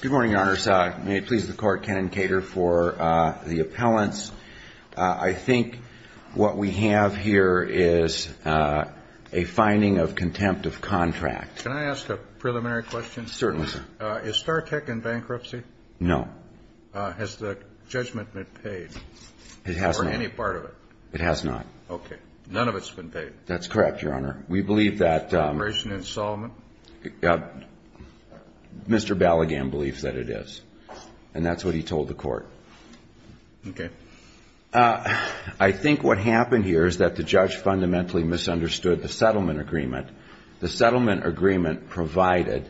Good morning, Your Honors. May it please the Court, Ken and Kater, for the appellants. I think what we have here is a finding of contempt of contract. Can I ask a preliminary question? Certainly, sir. Is StarTech in bankruptcy? No. Has the judgment been paid? It has not. Or any part of it? It has not. Okay. None of it's been paid. That's correct, Your Honor. We believe that Mr. Ballaghan believes that it is. And that's what he told the Court. Okay. I think what happened here is that the judge fundamentally misunderstood the settlement agreement. The settlement agreement provided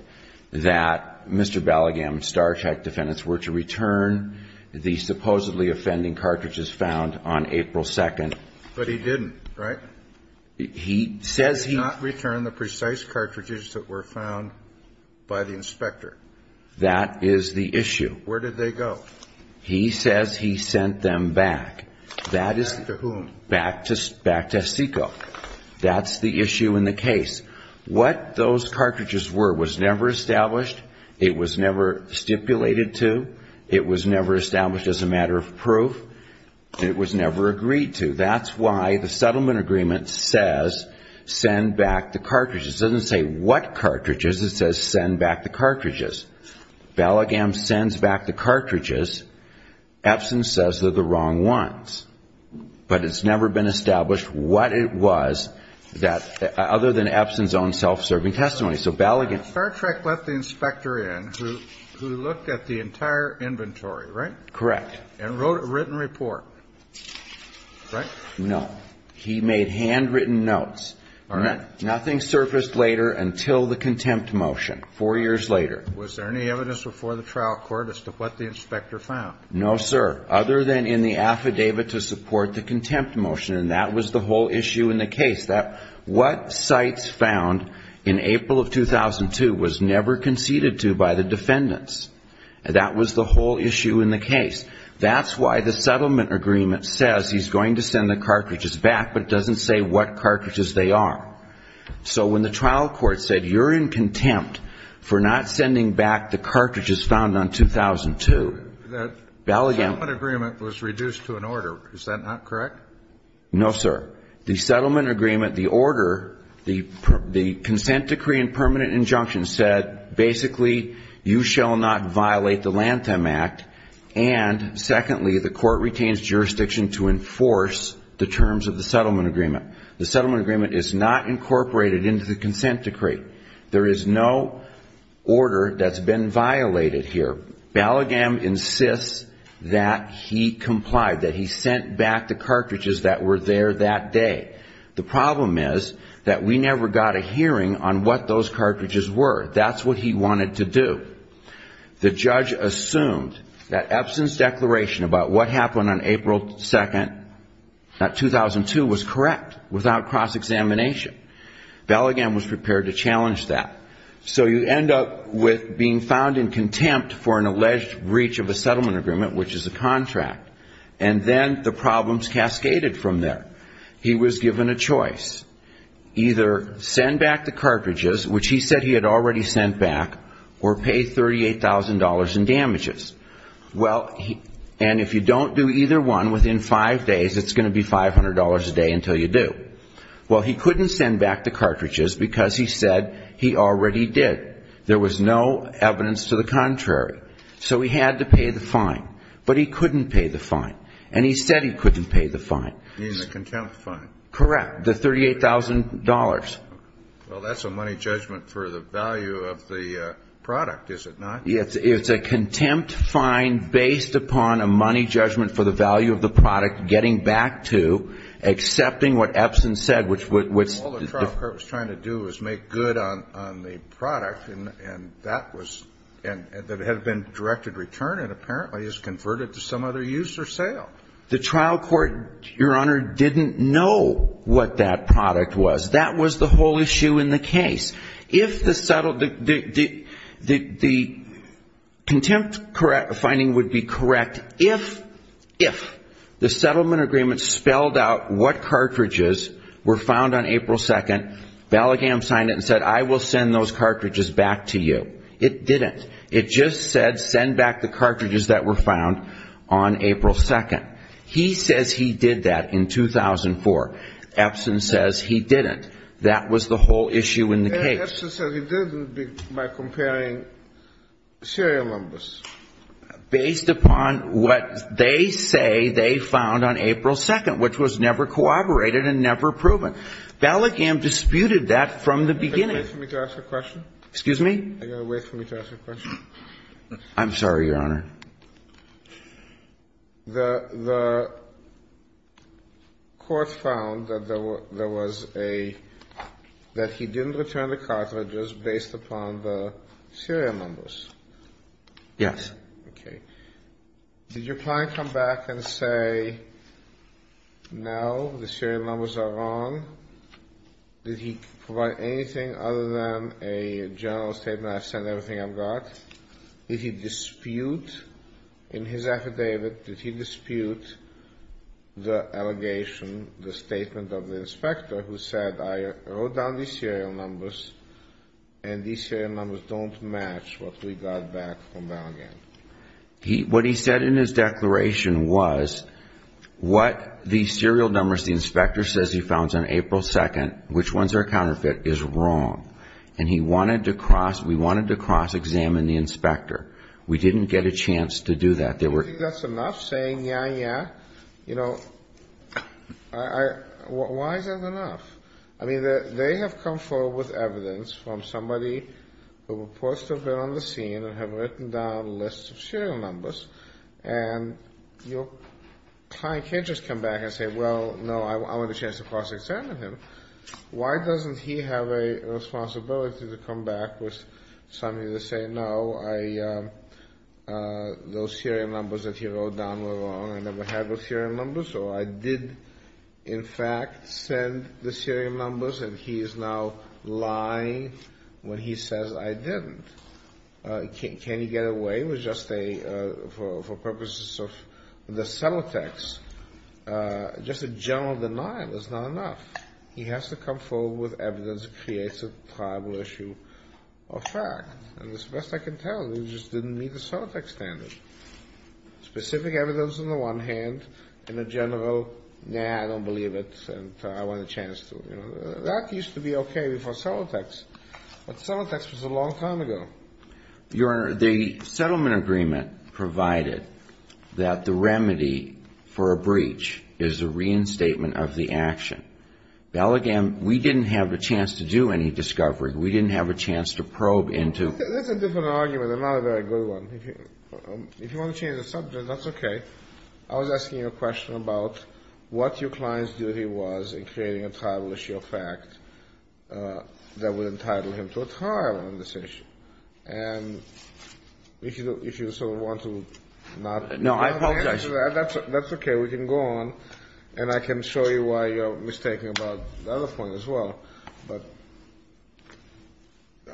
that Mr. Ballaghan and StarTech defendants were to return the supposedly offending cartridges found on April 2nd. But he didn't, right? He says he did not return the precise cartridges that were found by the inspector. That is the issue. Where did they go? He says he sent them back. That is Back to whom? Back to SECO. That's the issue in the case. What those cartridges were was never established. It was never stipulated to. It was never established as a matter of proof. It was never agreed to. That's why the settlement agreement says send back the cartridges. It doesn't say what cartridges. It says send back the cartridges. Ballaghan sends back the cartridges. Epson says they're the wrong ones. But it's never been established what it was other than Epson's own self-serving testimony. So Ballaghan StarTech let the inspector in who looked at the entire inventory, right? Correct. And wrote a written report, right? No. He made handwritten notes. All right. Nothing surfaced later until the contempt motion four years later. Was there any evidence before the trial court as to what the inspector found? No, sir. Other than in the affidavit to support the contempt motion. And that was the whole issue in the case. That what sites found in April of 2002 was never conceded to by the That's why the settlement agreement says he's going to send the cartridges back, but doesn't say what cartridges they are. So when the trial court said you're in contempt for not sending back the cartridges found on 2002, Ballaghan The settlement agreement was reduced to an order. Is that not correct? No, sir. The settlement agreement, the order, the consent decree and permanent injunction said basically you shall not violate the Lanthem Act. And secondly, the court retains jurisdiction to enforce the terms of the settlement agreement. The settlement agreement is not incorporated into the consent decree. There is no order that's been violated here. Ballaghan insists that he complied, that he sent back the cartridges that were there that day. The problem is that we never got a hearing on what those cartridges were. That's what he wanted to do. The judge assumed that Epson's declaration about what happened on April 2nd, that 2002, was correct without cross-examination. Ballaghan was prepared to challenge that. So you end up with being found in contempt for an alleged breach of a settlement agreement, which is a contract. And then the problems cascaded from there. He was given a choice. Either send back the cartridges, which he said he had already sent back, or pay $38,000 in damages. Well, and if you don't do either one within five days, it's going to be $500 a day until you do. Well, he couldn't send back the cartridges because he said he already did. There was no evidence to the contrary. So he had to pay the fine. But he couldn't pay the fine. And he said he couldn't pay the fine. You mean the contempt fine? Correct. The $38,000. Well, that's a money judgment for the value of the product, is it not? Yes. It's a contempt fine based upon a money judgment for the value of the product, getting back to, accepting what Epson said, which was the defeat. The trial court, Your Honor, didn't know what that product was. That was the whole issue in the case. If the settlement, the contempt finding would be correct if, if the settlement agreement spelled out what cartridges were found on April 2nd, value Bellagam signed it and said, I will send those cartridges back to you. It didn't. It just said send back the cartridges that were found on April 2nd. He says he did that in 2004. Epson says he didn't. That was the whole issue in the case. Epson said he did it by comparing serial numbers. Based upon what they say they found on April 2nd, which was never corroborated and never have been corroborated... And if you see a Serial Number, a Suggested Figure. Okay. They are repeated. They are repeated. So you know all of that from the beginning. Are you going to wait for me to ask the question? Excuse me? Are you going to wait for me to ask the question? I am sorry, Your Honor. The court found that there was a, that he didn't return the Serial Numbers that were found in his affidavit, but he did not provide anything other than a general statement, I've sent everything I've got. Did he dispute in his affidavit, did he dispute the allegation, the statement of the inspector who said, I wrote down these Serial Numbers and these Serial Numbers don't match what we got back from Baloghain? What he said in his declaration was, what the Serial Numbers the inspector says he founds on April 2nd, which ones are counterfeit, is wrong. And he wanted to cross, we wanted to cross-examine the inspector. We didn't get a chance to do that. Do you think that's enough saying, yeah, yeah? You know, why is that enough? I mean, they have come forward with evidence from somebody who reports to have been on the scene and have written down lists of Serial Numbers, and your client can't just come back and say, well, no, I want a chance to cross-examine him. Why doesn't he have a responsibility to come back with something to say, no, I, those Serial Numbers that he wrote down were wrong, I never had those Serial Numbers, or I did in fact send the Serial Numbers and he is now lying when he says, I didn't. Can he get away with just a, for purposes of the Celotex, just a general denial is not enough. He has to come forward with evidence that creates a tribal issue of fact. And as best I can tell, we just didn't meet the Celotex standard. Specific evidence on the one hand, and a general, nah, I don't believe it, and I want a chance to, you know. That used to be okay before Celotex, but Celotex was a long time ago. Your Honor, the settlement agreement provided that the remedy for a breach is a reinstatement of the action. Now again, we didn't have a chance to do any discovery, we didn't have a chance to probe into. That's a different argument, and not a very good one. If you want to change the subject, that's okay. I was asking you a question about what your client's duty was in creating a tribal issue of fact that would entitle him to a trial on this issue. And if you sort of want to not answer that, that's okay, we can go on, and I can show you why you're mistaken about the other point as well. But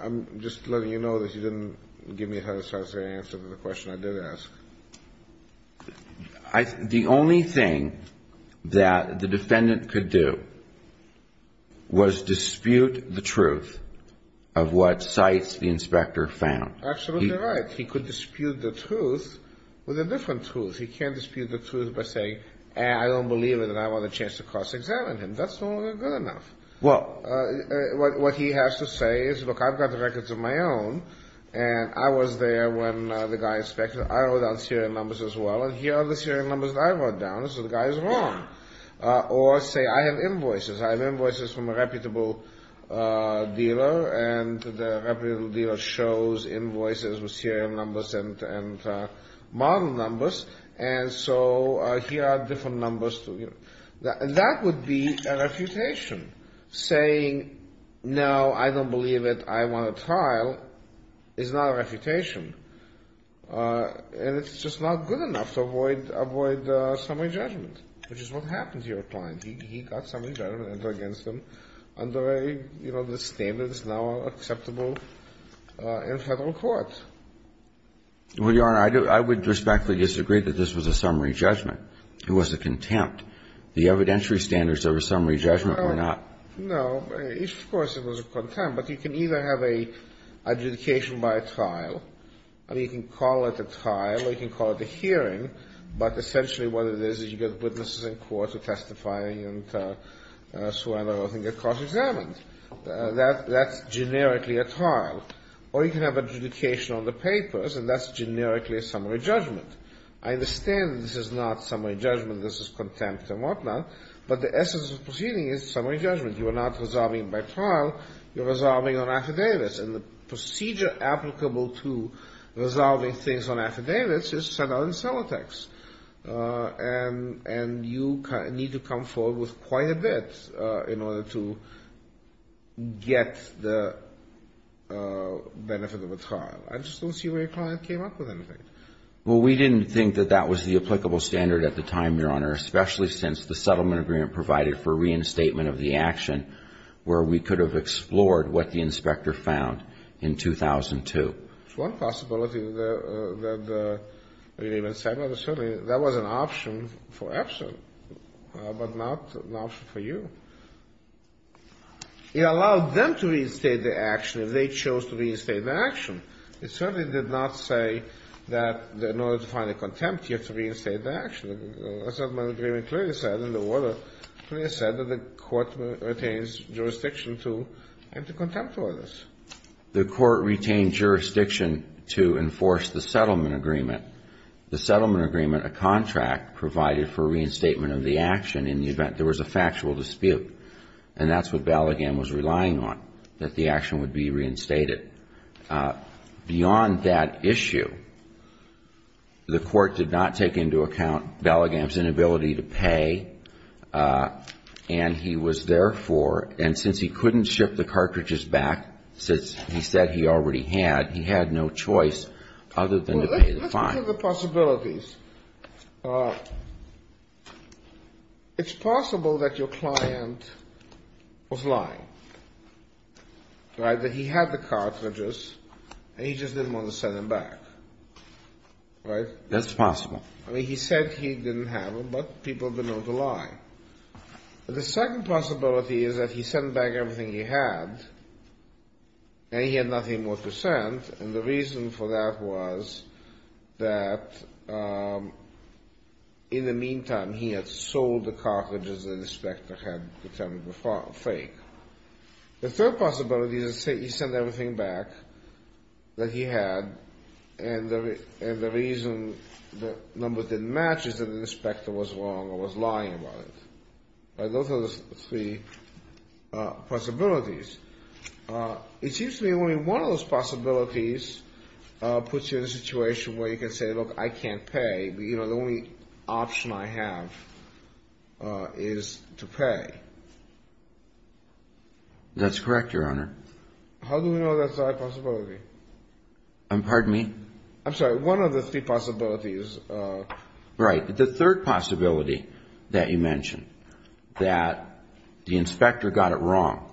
I'm just letting you know that you didn't give me a satisfactory answer to the question I did ask. The only thing that the defendant could do was dispute the truth of what sites the inspector found. Absolutely right. He could dispute the truth with a different truth. He can't dispute the truth by saying, I don't believe it, and I want a chance to cross-examine him. That's not good enough. Well, what he has to say is, look, I've got records of my own, and I was there when the guy inspected. I wrote down serial numbers as well, and here are the serial numbers that I wrote down, so the guy is wrong. Or say, I have invoices. I have invoices from a reputable dealer, and the reputable dealer shows invoices with serial numbers and model numbers, and so here are different numbers. That would be a refutation, saying, no, I don't believe it, I want a trial is not a refutation, and it's just not good enough to avoid summary judgment, which is what happened to your client. He got summary judgment against him under a, you know, the standards now acceptable in Federal court. Well, Your Honor, I would respectfully disagree that this was a summary judgment. It was a contempt. The evidentiary standards of a summary judgment were not. No, of course it was a contempt, but you can either have an adjudication by a trial, or you can call it a trial, or you can call it a hearing, but essentially what it is is you get witnesses in court who testify, and so on and so forth, and get cross-examined. That's generically a trial. Or you can have adjudication on the papers, and that's generically a summary judgment. I understand this is not summary judgment, this is contempt and whatnot, but the essence of proceeding is summary judgment. You are not resolving by trial, you're resolving on affidavits, and the procedure applicable to resolving things on affidavits is sent out in cellotex, and you need to come forward with quite a bit in order to get the benefit of a trial. I just don't see where your client came up with anything. Well, we didn't think that that was the applicable standard at the time, Your Honor, especially since the settlement agreement provided for reinstatement of the action, where we could have explored what the inspector found in 2002. It's one possibility that the relief and settlement, certainly that was an option for Epson, but not an option for you. It allowed them to reinstate the action if they chose to reinstate the action. It certainly did not say that in order to find a contempt, you have to reinstate the action. The settlement agreement clearly said in the order, clearly said that the court retains jurisdiction to enter contempt for this. The court retained jurisdiction to enforce the settlement agreement. The settlement agreement, a contract provided for reinstatement of the action in the event there was a factual dispute, and that's what Baligam was relying on, that the action would be reinstated. Beyond that issue, the court did not take into account Baligam's inability to pay, and he was therefore, and since he couldn't ship the cartridges back, since he said he already had, he had no choice other than to pay the fine. Let's look at the possibilities. It's possible that your client was lying. That he had the cartridges, and he just didn't want to send them back. That's possible. He said he didn't have them, but people have been known to lie. The second possibility is that he sent back everything he had, and he had nothing more to send, and the reason for that was that in the meantime, he had sold the cartridges that the inspector had determined were fake. The third possibility is that he sent everything back that he had, and the reason the numbers didn't match is that the inspector was wrong or was lying about it. Those are the three possibilities. It seems to me only one of those possibilities puts you in a situation where you can say, look, I can't pay. The only option I have is to pay. That's correct, your honor. How do we know that's a possibility? I'm sorry, one of the three possibilities. Right. The third possibility that you mentioned, that the inspector got it wrong,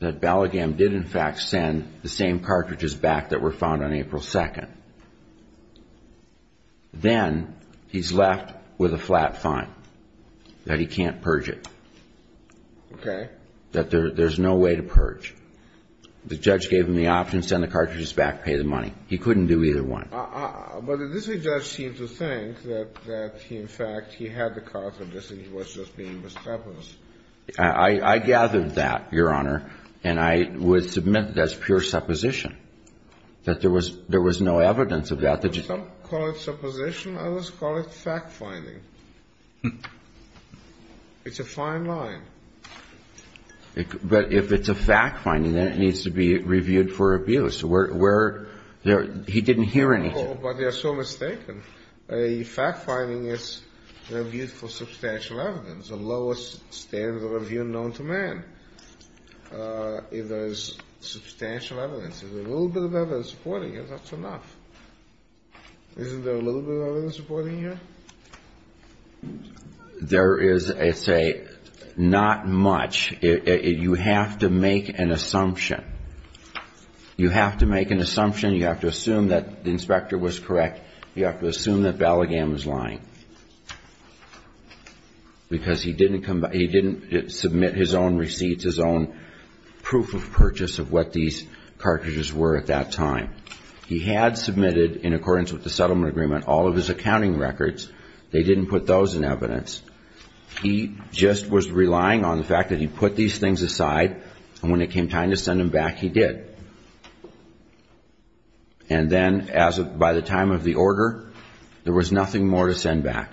that Ballagham did in fact send the same cartridges back that were found on April 2nd. Then he's left with a flat fine, that he can't purge it. Okay. That there's no way to purge. The judge gave him the option to send the cartridges back, pay the money. He couldn't do either one. But did this judge seem to think that he in fact, he had the cartridges and he was just being mischievous? I gathered that, your honor, and I would submit that's pure supposition, that there was no evidence of that. Some call it supposition, others call it fact finding. It's a fine line. But if it's a fact finding, then it needs to be reviewed for abuse. Where, he didn't hear anything. Oh, but they're so mistaken. A fact finding is an abuse for substantial evidence, the lowest standard of review known to man. If there's substantial evidence, if there's a little bit of evidence supporting it, that's enough. Isn't there a little bit of evidence supporting it? There is, I'd say, not much. You have to make an assumption. You have to make an assumption. You have to assume that the inspector was correct. You have to assume that Ballaghan was lying. Because he didn't submit his own receipts, his own proof of purchase of what these cartridges were at that time. He had submitted, in accordance with the settlement agreement, all of his accounting records. They didn't put those in evidence. He just was relying on the fact that he put these things aside, and when it came time to send them back, he did. And then, by the time of the order, there was nothing more to send back.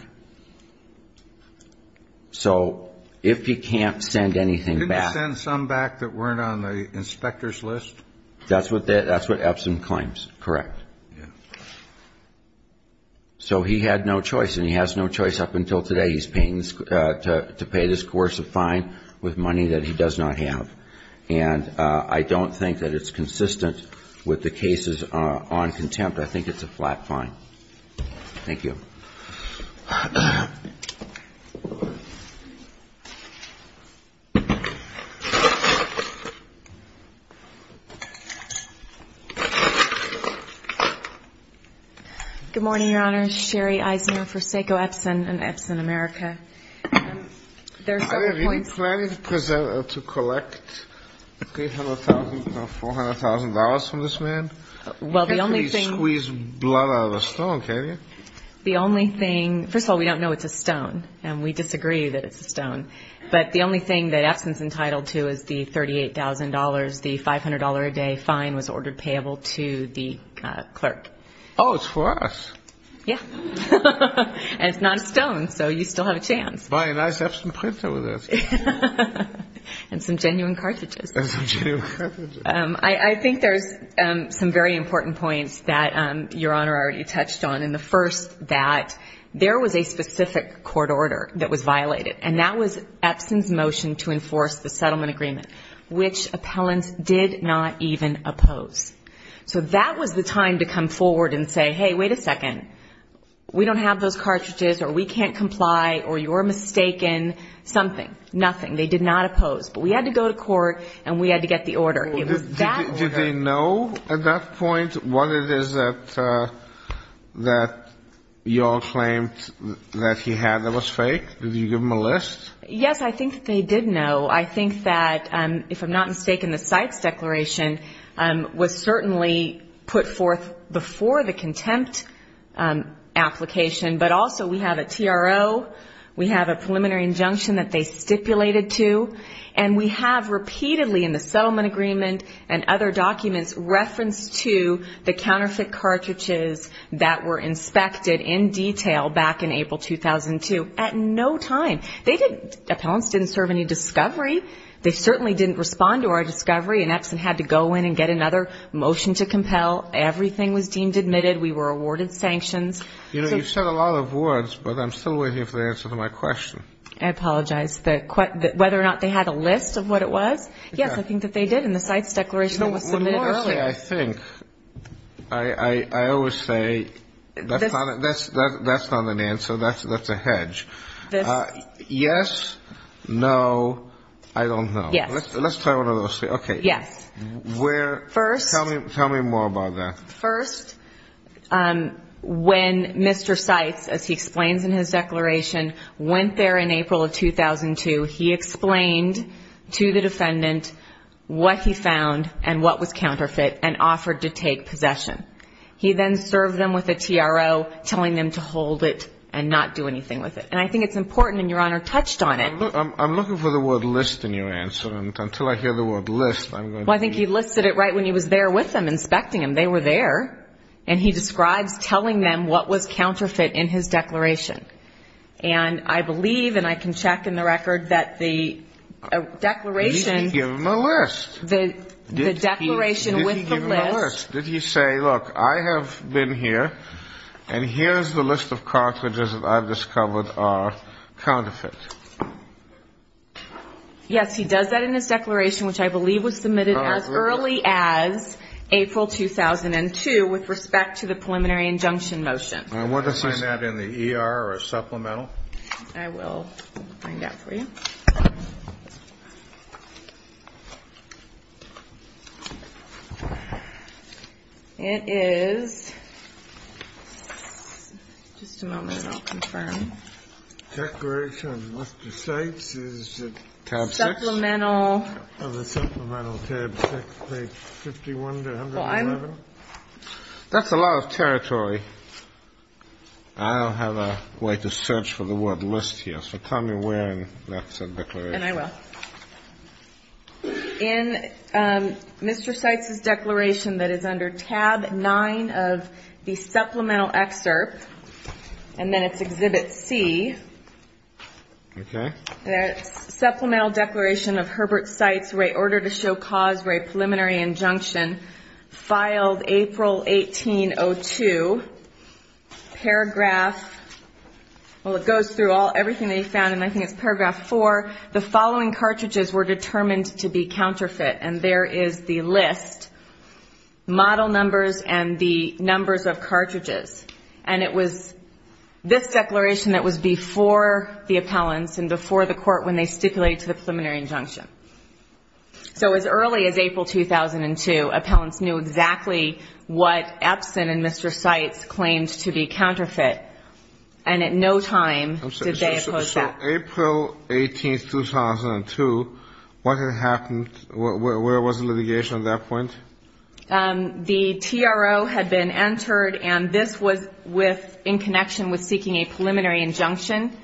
So, if he can't send anything back... He didn't send some back that weren't on the inspector's list? That's what Epson claims, correct. So, he had no choice, and he has no choice up until today to pay this coercive fine with money that he does not have. And I don't think that it's consistent with the cases on contempt. I think it's a flat fine. Thank you. Good morning, Your Honor. Sherry Eisner for Seiko Epson and Epson America. Are you planning to collect $300,000 or $400,000 from this man? Well, the only thing... You can't squeeze blood out of a stone, can you? The only thing... First of all, we don't know it's a stone, and we disagree that it's a stone. But the only thing that Epson's entitled to is the $38,000, the $500-a-day fine was ordered payable to the clerk. Oh, it's for us. Yeah. And it's not a stone, so you still have a chance. Buy a nice Epson printer with this. And some genuine cartridges. And some genuine cartridges. I think there's some very important points that Your Honor already touched on. And the first, that there was a specific court order that was violated, and that was So that was the time to come forward and say, hey, wait a second. We don't have those cartridges, or we can't comply, or you're mistaken. Something. Nothing. They did not oppose. But we had to go to court, and we had to get the order. It was that order. Did they know at that point what it is that you all claimed that he had that was fake? Did you give them a list? Yes, I think that they did know. I think that, if I'm not mistaken, the Sykes Declaration was certainly put forth before the contempt application. But also, we have a TRO. We have a preliminary injunction that they stipulated to. And we have repeatedly in the settlement agreement and other documents referenced to the counterfeit cartridges that were inspected in detail back in April 2002. At no time. They didn't, appellants didn't serve any discovery. They certainly didn't respond to our discovery, and Epson had to go in and get another motion to compel. Everything was deemed admitted. We were awarded sanctions. You know, you've said a lot of words, but I'm still waiting for the answer to my question. I apologize. Whether or not they had a list of what it was? Yes, I think that they did, and the Sykes Declaration was submitted earlier. I think, I always say, that's not an answer. That's a hedge. Yes? No? I don't know. Yes. Let's try one of those. Okay. Yes. Where? First. Tell me more about that. First, when Mr. Sykes, as he explains in his declaration, went there in April of 2002, he explained to the defendant what he found and what was counterfeit and offered to take possession. He then served them with a TRO, telling them to hold it and not do anything with it. And I think it's important, and Your Honor touched on it. I'm looking for the word list in your answer. Until I hear the word list, I'm going to be... Well, I think he listed it right when he was there with them, inspecting them. They were there. And he describes telling them what was counterfeit in his declaration. And I believe, and I can check in the record, that the declaration... Did he give them a list? The declaration with the list... Did he give them a list? Yes. Did he say, look, I have been here, and here's the list of cartridges that I've discovered are counterfeit? Yes, he does that in his declaration, which I believe was submitted as early as April 2002 with respect to the preliminary injunction motion. Can you find that in the ER or supplemental? I will find that for you. It is... Just a moment, I'll confirm. Declaration of Mr. Seitz is... Tab 6. Supplemental... Of the supplemental, tab 6, page 51 to 111. Fine. That's a lot of territory. I don't have a way to search for the word list here, so tell me when that's a declaration. And I will. In Mr. Seitz's declaration that is under tab 9 of the supplemental excerpt, and then it's exhibit C... Okay. Supplemental declaration of Herbert Seitz, order to show cause for a preliminary injunction, filed April 1802. Paragraph... Well, it goes through everything that he found, and I think it's paragraph 4. The following cartridges were determined to be counterfeit, and there is the list. Model numbers and the numbers of cartridges. And it was this declaration that was before the appellants and before the court when they stipulated to the preliminary injunction. So as early as April 2002, appellants knew exactly what Epson and Mr. Seitz claimed to be counterfeit. And at no time did they oppose that. So April 18, 2002, what had happened, where was the litigation at that point? The TRO had been entered, and this was with, in connection with seeking a preliminary injunction.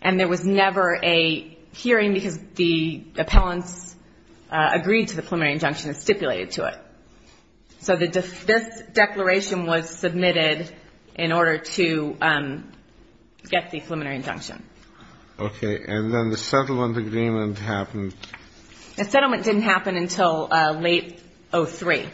And there was never a hearing because the appellants agreed to the preliminary injunction and stipulated to it. So this declaration was submitted in order to get the preliminary injunction. Okay. And then the settlement agreement happened... The settlement didn't happen until late 03.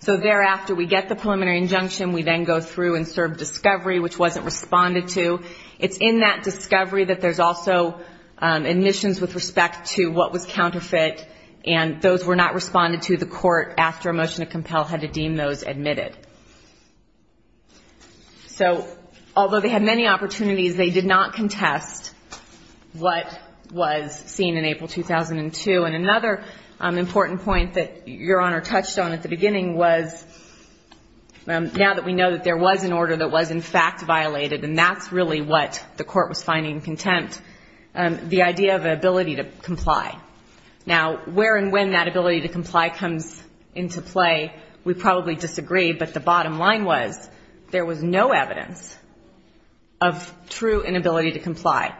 So thereafter, we get the preliminary injunction. We then go through and serve discovery, which wasn't responded to. It's in that discovery that there's also admissions with respect to what was counterfeit. And those were not responded to. The court, after a motion to compel, had to deem those admitted. So, although they had many opportunities, they did not contest what was seen in April 2002. And another important point that Your Honor touched on at the beginning was, now that we know that there was an order that was, in fact, violated, and that's really what the court was finding contempt, the idea of ability to comply. Now, where and when that ability to comply comes into play, we probably disagree, but the bottom line was there was no evidence of true inability to comply.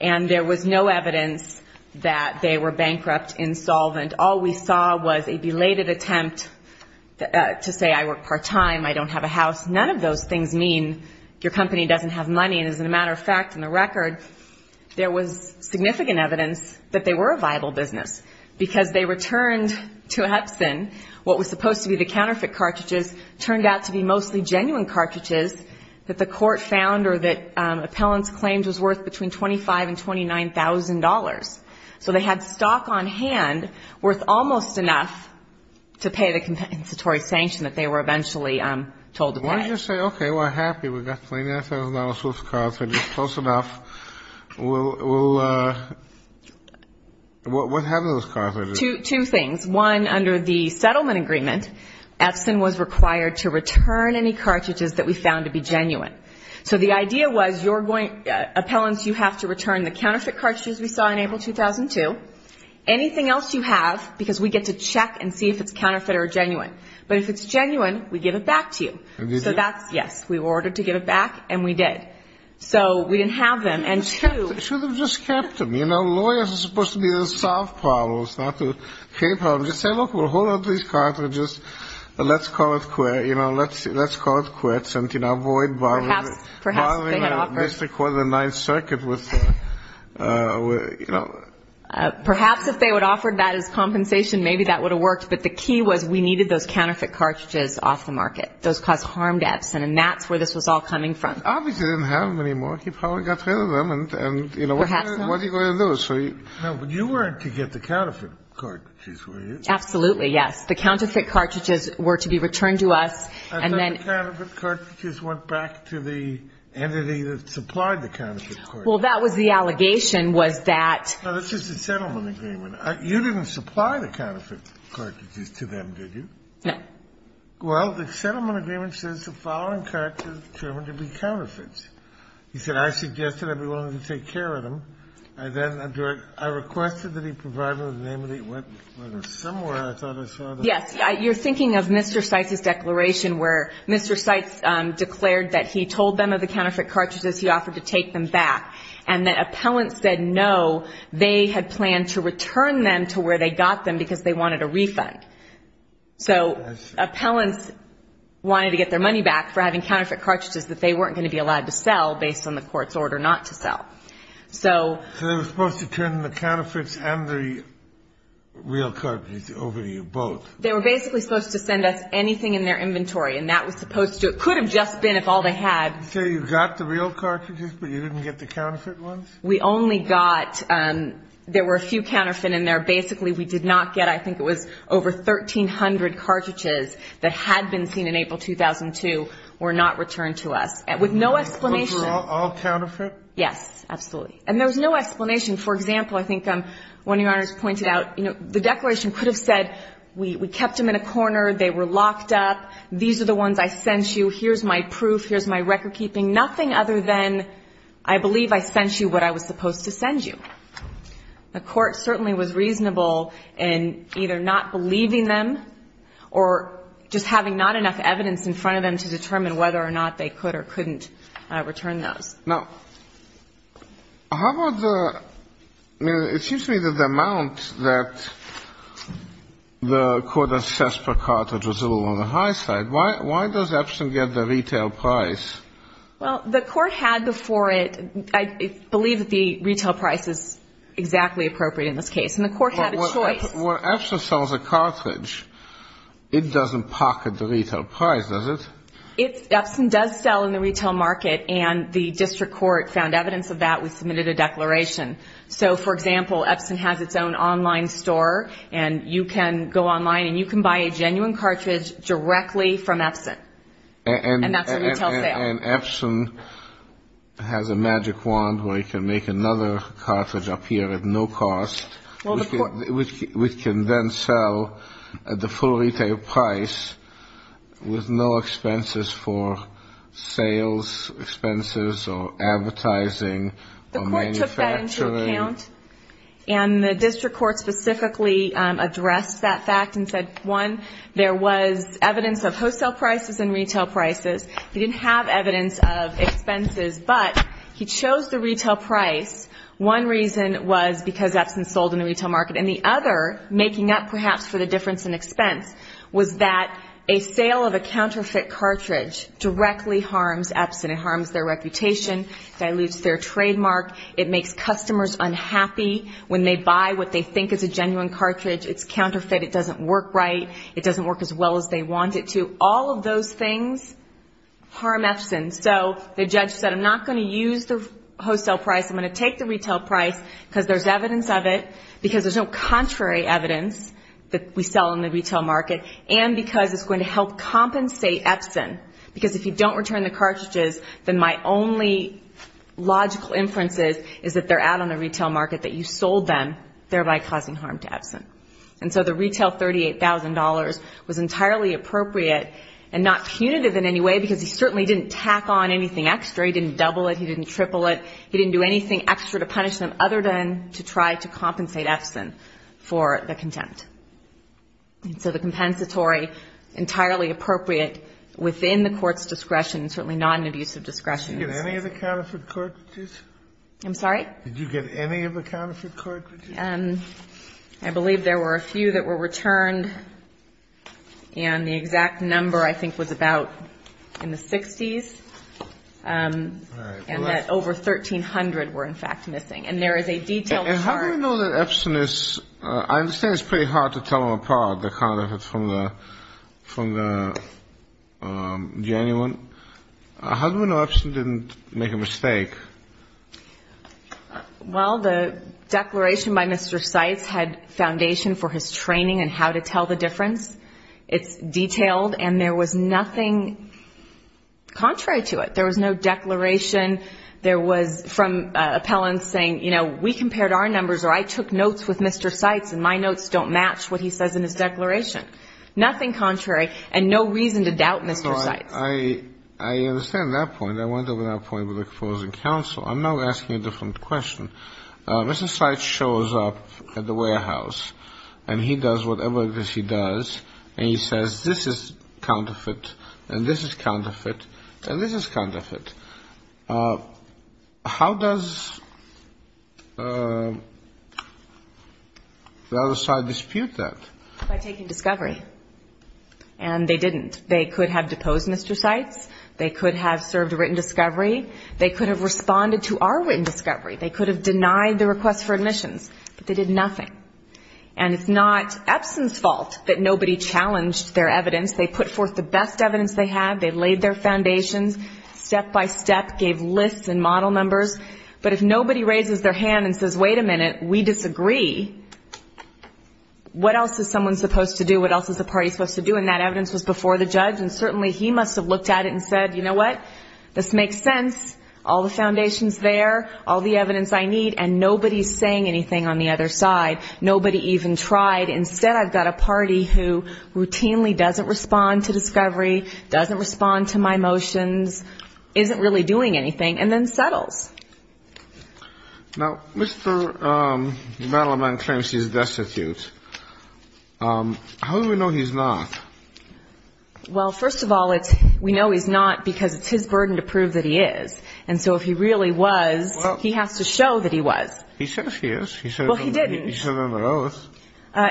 And there was no evidence that they were bankrupt, insolvent. All we saw was a belated attempt to say, I work part-time, I don't have a house. None of those things mean your company doesn't have money. And as a matter of fact, in the record, there was significant evidence that they were a viable business. Because they returned to Epson what was supposed to be the counterfeit cartridges, turned out to be mostly genuine cartridges that the court found, or that appellants claimed was worth between $25,000 and $29,000. So they had stock on hand worth almost enough to pay the compensatory sanction that they were eventually told to pay. Why don't you say, okay, we're happy, we've got $29,000 worth of cartridges, close enough. We'll, we'll, what happened to those cartridges? Two things. One, under the settlement agreement, Epson was required to return any cartridges that we found to be genuine. So the idea was, you're going, appellants, you have to return the counterfeit cartridges we saw in April 2002, anything else you have, because we get to check and see if it's counterfeit or genuine. But if it's genuine, we give it back to you. So that's, yes, we were ordered to give it back, and we did. So we didn't have them. And two... You should have just kept them. You know, lawyers are supposed to be there to solve problems, not to create problems. Just say, look, we'll hold on to these cartridges, let's call it quits, and, you know, avoid borrowing... Perhaps, perhaps, they had offered... ...borrowing Mr. Corley's Ninth Circuit with, you know... Perhaps if they would have offered that as compensation, maybe that would have worked. But the key was, we needed those counterfeit cartridges off the market. Those caused harm to Epson, and that's where this was all coming from. Obviously, they didn't have them anymore. He probably got rid of them, and, you know, what are you going to do? Perhaps not. No, but you were to get the counterfeit cartridges, were you? Absolutely, yes. The counterfeit cartridges were to be returned to us, and then... The counterfeit cartridges went back to the entity that supplied the counterfeit cartridges. Well, that was the allegation, was that... No, that's just the settlement agreement. You didn't supply the counterfeit cartridges to them, did you? No. Well, the settlement agreement says the following cartridges are determined to be counterfeits. He said, I suggested I'd be willing to take care of them. I then requested that he provide them in the name of the... Somewhere, I thought I saw... Yes, you're thinking of Mr. Seitz's declaration where Mr. Seitz declared that he told them of the counterfeit cartridges he offered to take them back, and that appellants said no, they had planned to return them to where they got them because they wanted a refund. So, appellants wanted to get their money back for having counterfeit cartridges that they weren't going to be allowed to sell based on the court's order not to sell. So, they were supposed to turn the counterfeits and the real cartridges over to you, both? They were basically supposed to send us anything in their inventory, and that was supposed to... It could have just been if all they had... So, you got the real cartridges, but you didn't get the counterfeit ones? We only got... There were a few counterfeit in there. Basically, we did not get... I think it was over 1,300 cartridges that had been seen in April 2002 were not returned to us. With no explanation... Those were all counterfeit? Yes, absolutely. And there was no explanation. For example, I think one of your honors pointed out, you know, the declaration could have said, we kept them in a corner, they were locked up, these are the ones I sent you, here's my proof, here's my record keeping, nothing other than I believe I sent you what I was supposed to send you. The court certainly was reasonable in either not believing them or just having not enough evidence in front of them to determine whether or not they could or couldn't return those. Now, how about the... I mean, it seems to me that the amount that the court assessed per cartridge was a little on the high side. Why does Epson get the retail price? Well, the court had before it... I believe that the retail price is exactly appropriate in this case, and the court had a choice. When Epson sells a cartridge, it doesn't pocket the retail price, does it? Epson does sell in the retail market, and the district court found evidence of that, we submitted a declaration. So, for example, Epson has its own online store, and you can go online and you can buy a genuine cartridge directly from Epson, and that's a retail sale. And Epson has a magic wand where you can make another cartridge appear at no cost, which can then sell at the full retail price with no expenses for sales expenses or advertising or manufacturing? The court took that into account, and the district court specifically addressed that fact and said, one, there was evidence of wholesale prices and retail prices. They didn't have evidence of expenses, but he chose the retail price. One reason was because Epson sold in the retail market. And the other, making up perhaps for the difference in expense, was that a sale of a counterfeit cartridge directly harms Epson. It harms their reputation, dilutes their trademark. It makes customers unhappy when they buy what they think is a genuine cartridge. It's counterfeit. It doesn't work right. It doesn't work as well as they want it to. All of those things harm Epson. So the judge said, I'm not going to use the wholesale price. I'm going to take the retail price because there's evidence of it, because there's no contrary evidence that we sell in the retail market, and because it's going to help compensate Epson. Because if you don't return the cartridges, then my only logical inference is that they're out on the retail market, that you sold them, thereby causing harm to Epson. And so the retail $38,000 was entirely appropriate and not punitive in any way, because he certainly didn't tack on anything extra. He didn't double it. He didn't triple it. He didn't do anything extra to punish them other than to try to compensate Epson for the contempt. And so the compensatory, entirely appropriate within the court's discretion, certainly not an abuse of discretion. Did you get any of the counterfeit cartridges? I'm sorry? Did you get any of the counterfeit cartridges? I believe there were a few that were returned, and the exact number I think was about in the 60s, and that over 1,300 were in fact missing. And there is a detailed chart. And how do we know that Epson is – I understand it's pretty hard to tell them apart, the counterfeit from the genuine. How do we know Epson didn't make a mistake? Well, the declaration by Mr. Seitz had foundation for his training in how to tell the difference. It's detailed, and there was nothing contrary to it. There was no declaration. There was – from appellants saying, you know, we compared our numbers, or I took notes with Mr. Seitz, and my notes don't match what he says in his declaration. Nothing contrary, and no reason to doubt Mr. Seitz. I understand that point. I went over that point with the opposing counsel. I'm now asking a different question. Mr. Seitz shows up at the warehouse, and he does whatever it is he does, and he says, this is counterfeit, and this is counterfeit, and this is counterfeit. How does the other side dispute that? By taking discovery. And they didn't. They could have deposed Mr. Seitz. They could have served written discovery. They could have responded to our written discovery. They could have denied the request for admissions. But they did nothing. And it's not Epson's fault that nobody challenged their evidence. They put forth the best evidence they had. They laid their foundations, step by step, gave lists and model numbers. But if nobody raises their hand and says, wait a minute, we disagree, what else is someone supposed to do? What else is the party supposed to do? And that evidence was before the judge, and certainly he must have looked at it and said, you know what? This makes sense. All the foundation's there. All the evidence I need. And nobody's saying anything on the other side. Nobody even tried. Instead, I've got a party who routinely doesn't respond to discovery, doesn't respond to my motions, isn't really doing anything, and then settles. Now, Mr. Malaman claims he's destitute. How do we know he's not? Well, first of all, we know he's not because it's his burden to prove that he is. And so if he really was, he has to show that he was. He says he is. Well, he didn't. He said on the oath.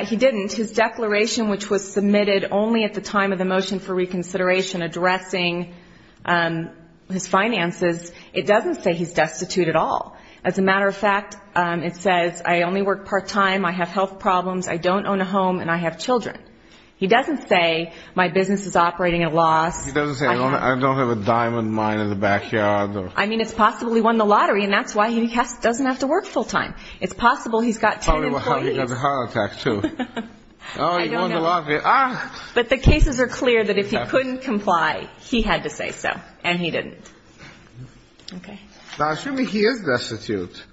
He didn't. His declaration, which was submitted only at the time of the motion for reconsideration addressing his finances, it doesn't say he's destitute. It doesn't say he's destitute at all. As a matter of fact, it says I only work part-time, I have health problems, I don't own a home, and I have children. He doesn't say my business is operating at a loss. He doesn't say I don't have a diamond mine in the backyard. I mean, it's possible he won the lottery, and that's why he doesn't have to work full-time. It's possible he's got ten employees. Probably got a heart attack, too. Oh, he won the lottery. But the cases are clear that if he couldn't comply, he had to say so, and he didn't. Okay. Now, assuming he is destitute,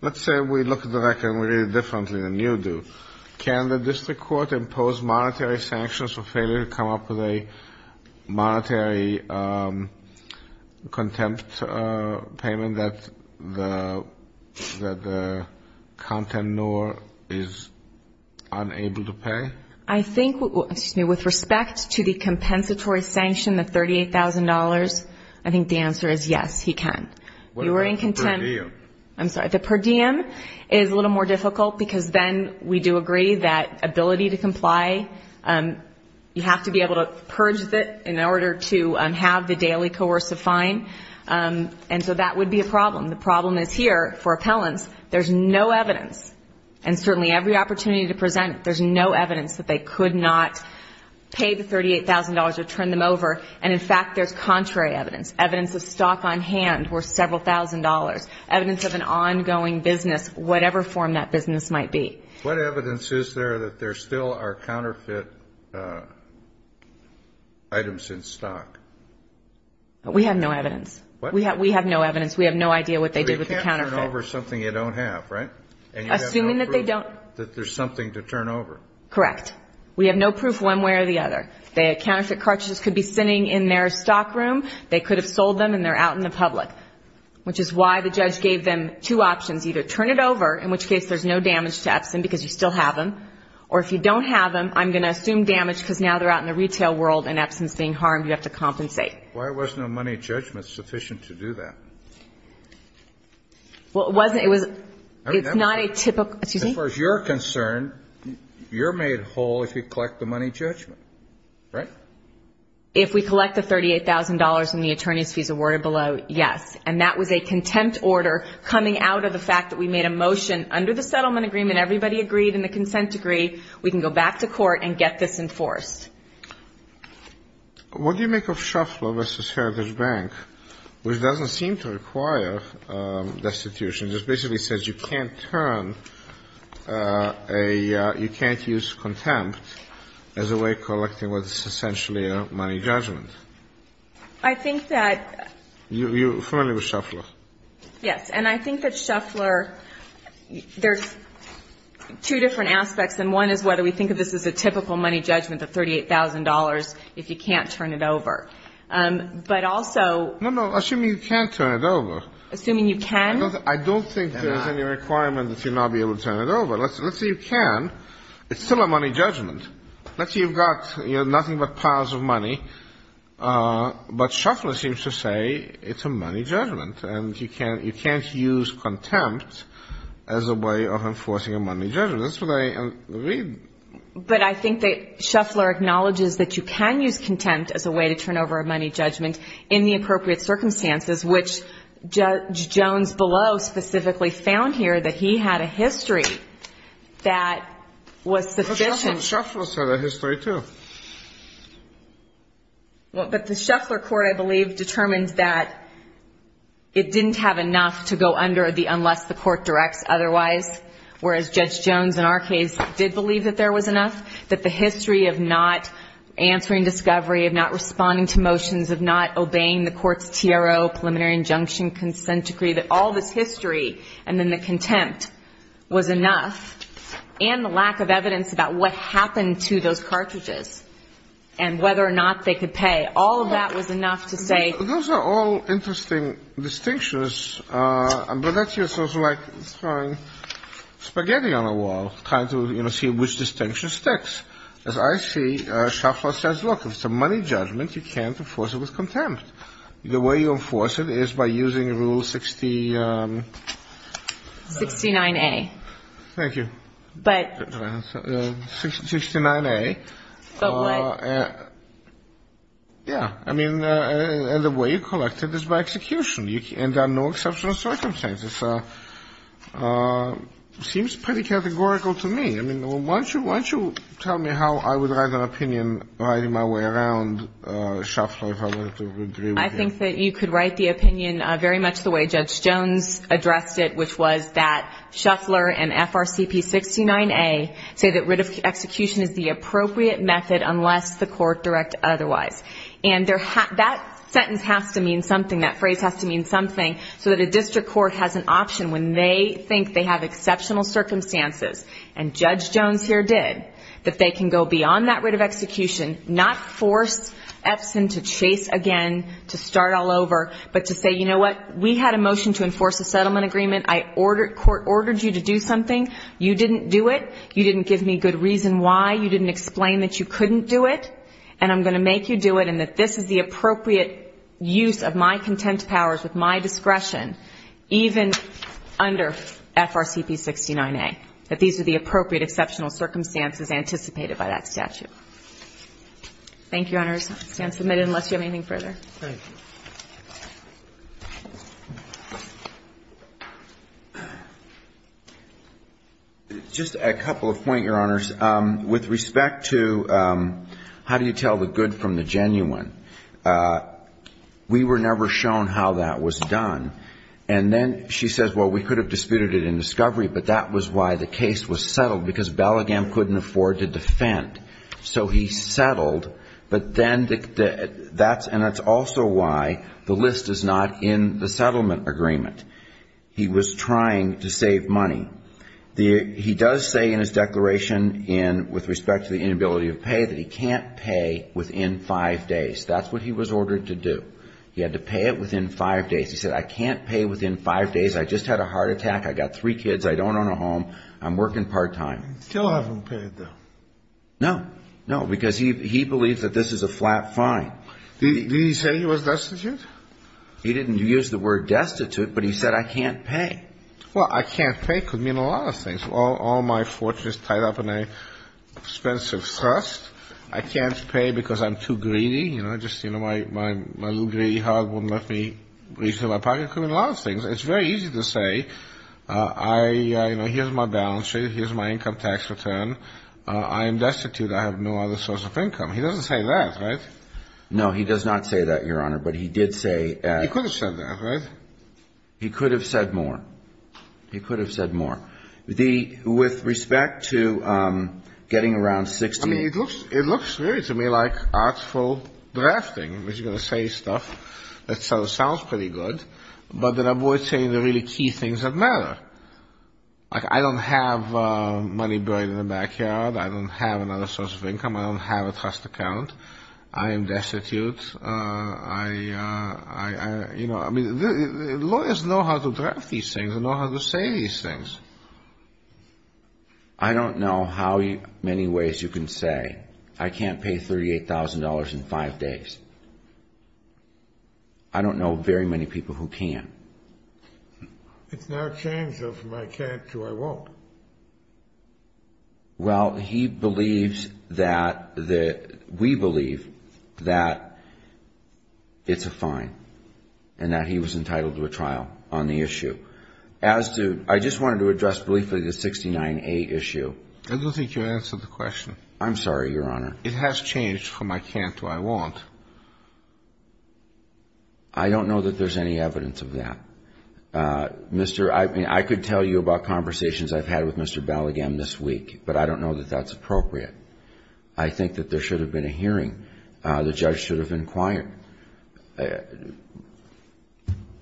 let's say we look at the record and we read it differently than you do. Can the district court impose monetary sanctions for failure to come up with a monetary contempt payment that the content nor is unable to pay? I think, excuse me, with respect to the compensatory sanction, the $38,000, I think the answer is yes, he can. What about the per diem? I'm sorry. The per diem is a little more difficult because then we do agree that ability to comply, you have to be able to purge it in order to have the daily coercive fine. And so that would be a problem. The problem is here for appellants, there's no evidence. And certainly every opportunity to present, there's no evidence that they could not pay the $38,000 or turn them over. And in fact, there's contrary evidence. Evidence of stock on hand were several thousand dollars. Evidence of an ongoing business, whatever form that business might be. What evidence is there that there still are counterfeit items in stock? We have no evidence. We have no evidence. We have no idea what they did with the counterfeit. You can turn over something you don't have, right? Assuming that they don't. That there's something to turn over. Correct. We have no proof one way or the other. The counterfeit cartridges could be sitting in their stock room. They could have sold them and they're out in the public. Which is why the judge gave them two options. Either turn it over, in which case there's no damage to Epson because you still have them. Or if you don't have them, I'm going to assume damage because now they're out in the retail world and Epson's being harmed, you have to compensate. Why was no money judgment sufficient to do that? Well, it wasn't. It's not a typical. Excuse me? As far as you're concerned, you're made whole if you collect the money judgment, right? If we collect the $38,000 and the attorney's fees awarded below, yes. And that was a contempt order coming out of the fact that we made a motion under the settlement agreement. Everybody agreed in the consent degree. We can go back to court and get this enforced. What do you make of Shuffler v. Heritage Bank, which doesn't seem to require destitution. It just basically says you can't turn a, you can't use contempt as a way of collecting what's essentially a money judgment. I think that... You're familiar with Shuffler? Yes. And I think that Shuffler, there's two different aspects. And one is whether we think of this as a typical money judgment, the $38,000, if you can't turn it over. But also... No, no. Assuming you can't turn it over. Assuming you can? I don't think there's any requirement that you'll not be able to turn it over. Let's say you can. It's still a money judgment. Let's say you've got nothing but piles of money, but Shuffler seems to say it's a money judgment. And you can't use contempt as a way of enforcing a money judgment. That's what I read. But I think that Shuffler acknowledges that you can use contempt as a way to turn over a money judgment in the appropriate circumstances, which Judge Jones below specifically found here that he had a history that was sufficient. Shuffler's had a history, too. But the Shuffler court, I believe, determined that it didn't have enough to go under unless the court directs otherwise. Whereas Judge Jones in our case did believe that there was enough. That the history of not answering discovery, of not responding to motions, of not obeying the court's TRO, preliminary injunction, consent decree, that all this history and then the contempt was enough. And the lack of evidence about what happened to those cartridges and whether or not they could pay. All of that was enough to say... Those are all interesting distinctions. But that's also like throwing spaghetti on a wall, trying to see which distinction sticks. As I see, Shuffler says, look, if it's a money judgment, you can't enforce it with contempt. The way you enforce it is by using Rule 69A. Thank you. But... 69A... But what? Yeah. I mean, and the way you collect it is by execution. And there are no exceptional circumstances. Seems pretty categorical to me. I mean, why don't you tell me how I would write an opinion riding my way around Shuffler if I were to agree with you. I think that you could write the opinion very much the way Judge Jones addressed it, which was that Shuffler and FRCP 69A say that writ of execution is the appropriate method unless the court direct otherwise. And that sentence has to mean something, that phrase has to mean something, so that a district court has an option when they think they have exceptional circumstances, and Judge Jones here did, that they can go beyond that writ of execution, not force Epson to chase again, to start all over, but to say, you know what, we had a motion to enforce a settlement agreement. I ordered, court ordered you to do something. You didn't do it. You didn't give me a good reason why. You didn't explain that you couldn't do it. And I'm going to make you do it and that this is the appropriate use of my contempt powers with my discretion, even under FRCP 69A. That these are the appropriate exceptional circumstances anticipated by that statute. Thank you, Your Honors. I stand submitted unless you have anything further. Thank you. Just a couple of points, Your Honors. With respect to how do you tell the good from the genuine? We were never shown how that was done. And then she says, well, we could have disputed it in discovery, but that was why the case was settled, because Bellingham couldn't afford to defend. So he settled, but then that's, and that's also why the list is not in the settlement agreement. He was trying to save money. He does say in his declaration with respect to the inability to pay that he can't pay within five days. That's what he was ordered to do. He had to pay it within five days. He said, I can't pay within five days. I just had a heart attack. I got three kids. I don't own a home. I'm working part time. Still haven't paid, though. No. No, because he believes that this is a flat fine. Did he say he was destitute? He didn't use the word destitute, but he said, I can't pay. Well, I can't pay could mean a lot of things. All my fortune is tied up in an expensive trust. I can't pay because I'm too greedy. You know, just, you know, my little greedy heart wouldn't let me reach into my pocket. It could mean a lot of things. It's very easy to say, I, you know, here's my balance sheet. Here's my income tax return. I am destitute. I have no other source of income. He doesn't say that, right? No, he does not say that, Your Honor, but he did say... He could have said that, right? He could have said more. He could have said more. With respect to getting around 60... I mean, it looks really to me like artful drafting. You're going to say stuff that sounds pretty good, but then avoid saying the really key things that matter. Like, I don't have money buried in the backyard. I don't have another source of income. I don't have a trust account. I am destitute. I, you know, I mean, lawyers know how to draft these things and know how to say these things. I don't know how many ways you can say, I can't pay $38,000 in five days. I don't know very many people who can. It's now changed though from I can't to I won't. Well, he believes that... We believe that it's a fine and that he was entitled to a trial on the issue. As to... I just wanted to address briefly the 69A issue. I don't think you answered the question. I'm sorry, Your Honor. It has changed from I can't to I won't. I don't know that there's any evidence of that. Mr. I mean, I could tell you about conversations I've had with Mr. Bell again this week, but I don't know that that's appropriate. I think that there should have been a hearing. The judge should have inquired.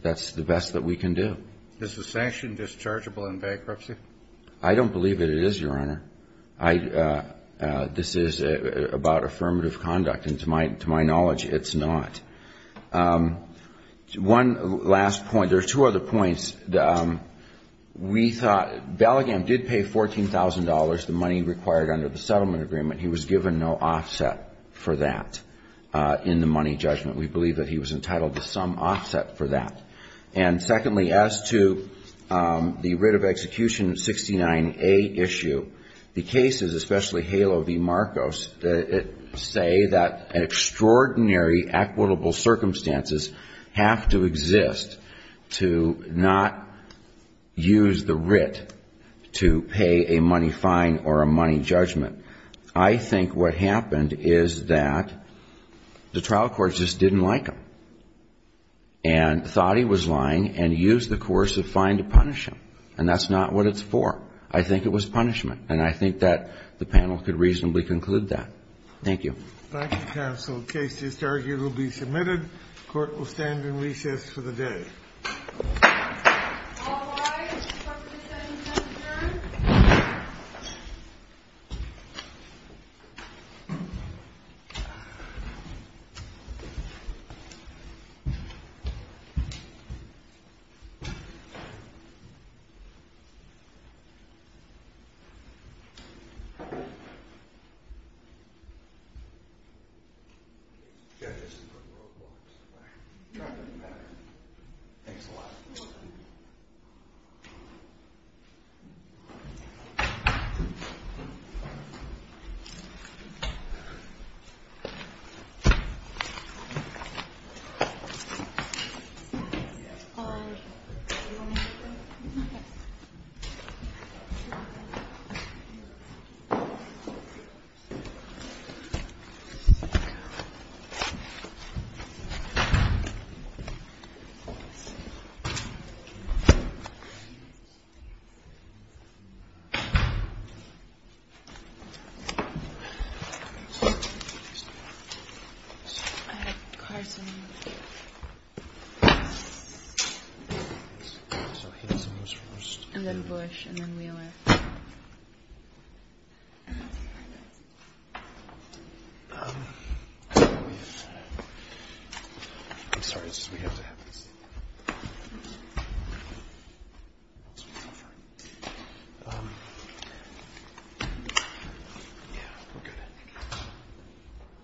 That's the best that we can do. Is the sanction dischargeable in bankruptcy? I don't believe that it is, Your Honor. I... This is about affirmative conduct. And to my knowledge, it's not. One last point. There are two other points. We thought... Bell again did pay $14,000, the money required under the settlement agreement. He was given no offset for that in the money judgment. We believe that he was entitled to some offset for that. And secondly, as to the writ of execution 69A issue, the cases, especially Halo v. Marcos, say that extraordinary equitable circumstances have to exist to not use the writ to pay a money fine or a money judgment. I think what happened is that the trial court just didn't like him. And thought he was lying and used the coercive fine to punish him. And that's not what it's for. I think it was punishment. And I think that the panel could reasonably conclude that. Thank you. Thank you, counsel. The case just argued will be submitted. Court will stand in recess for the day. All rise. Mr. Buckley, is there anything you'd like to add? No. Judge, this is for the world to watch. It's not going to matter. Thanks a lot. Thank you. I have Carson. And then Bush, and then Wheeler. Thank you. I'm sorry, it's just we have to have this. Yeah, we're good.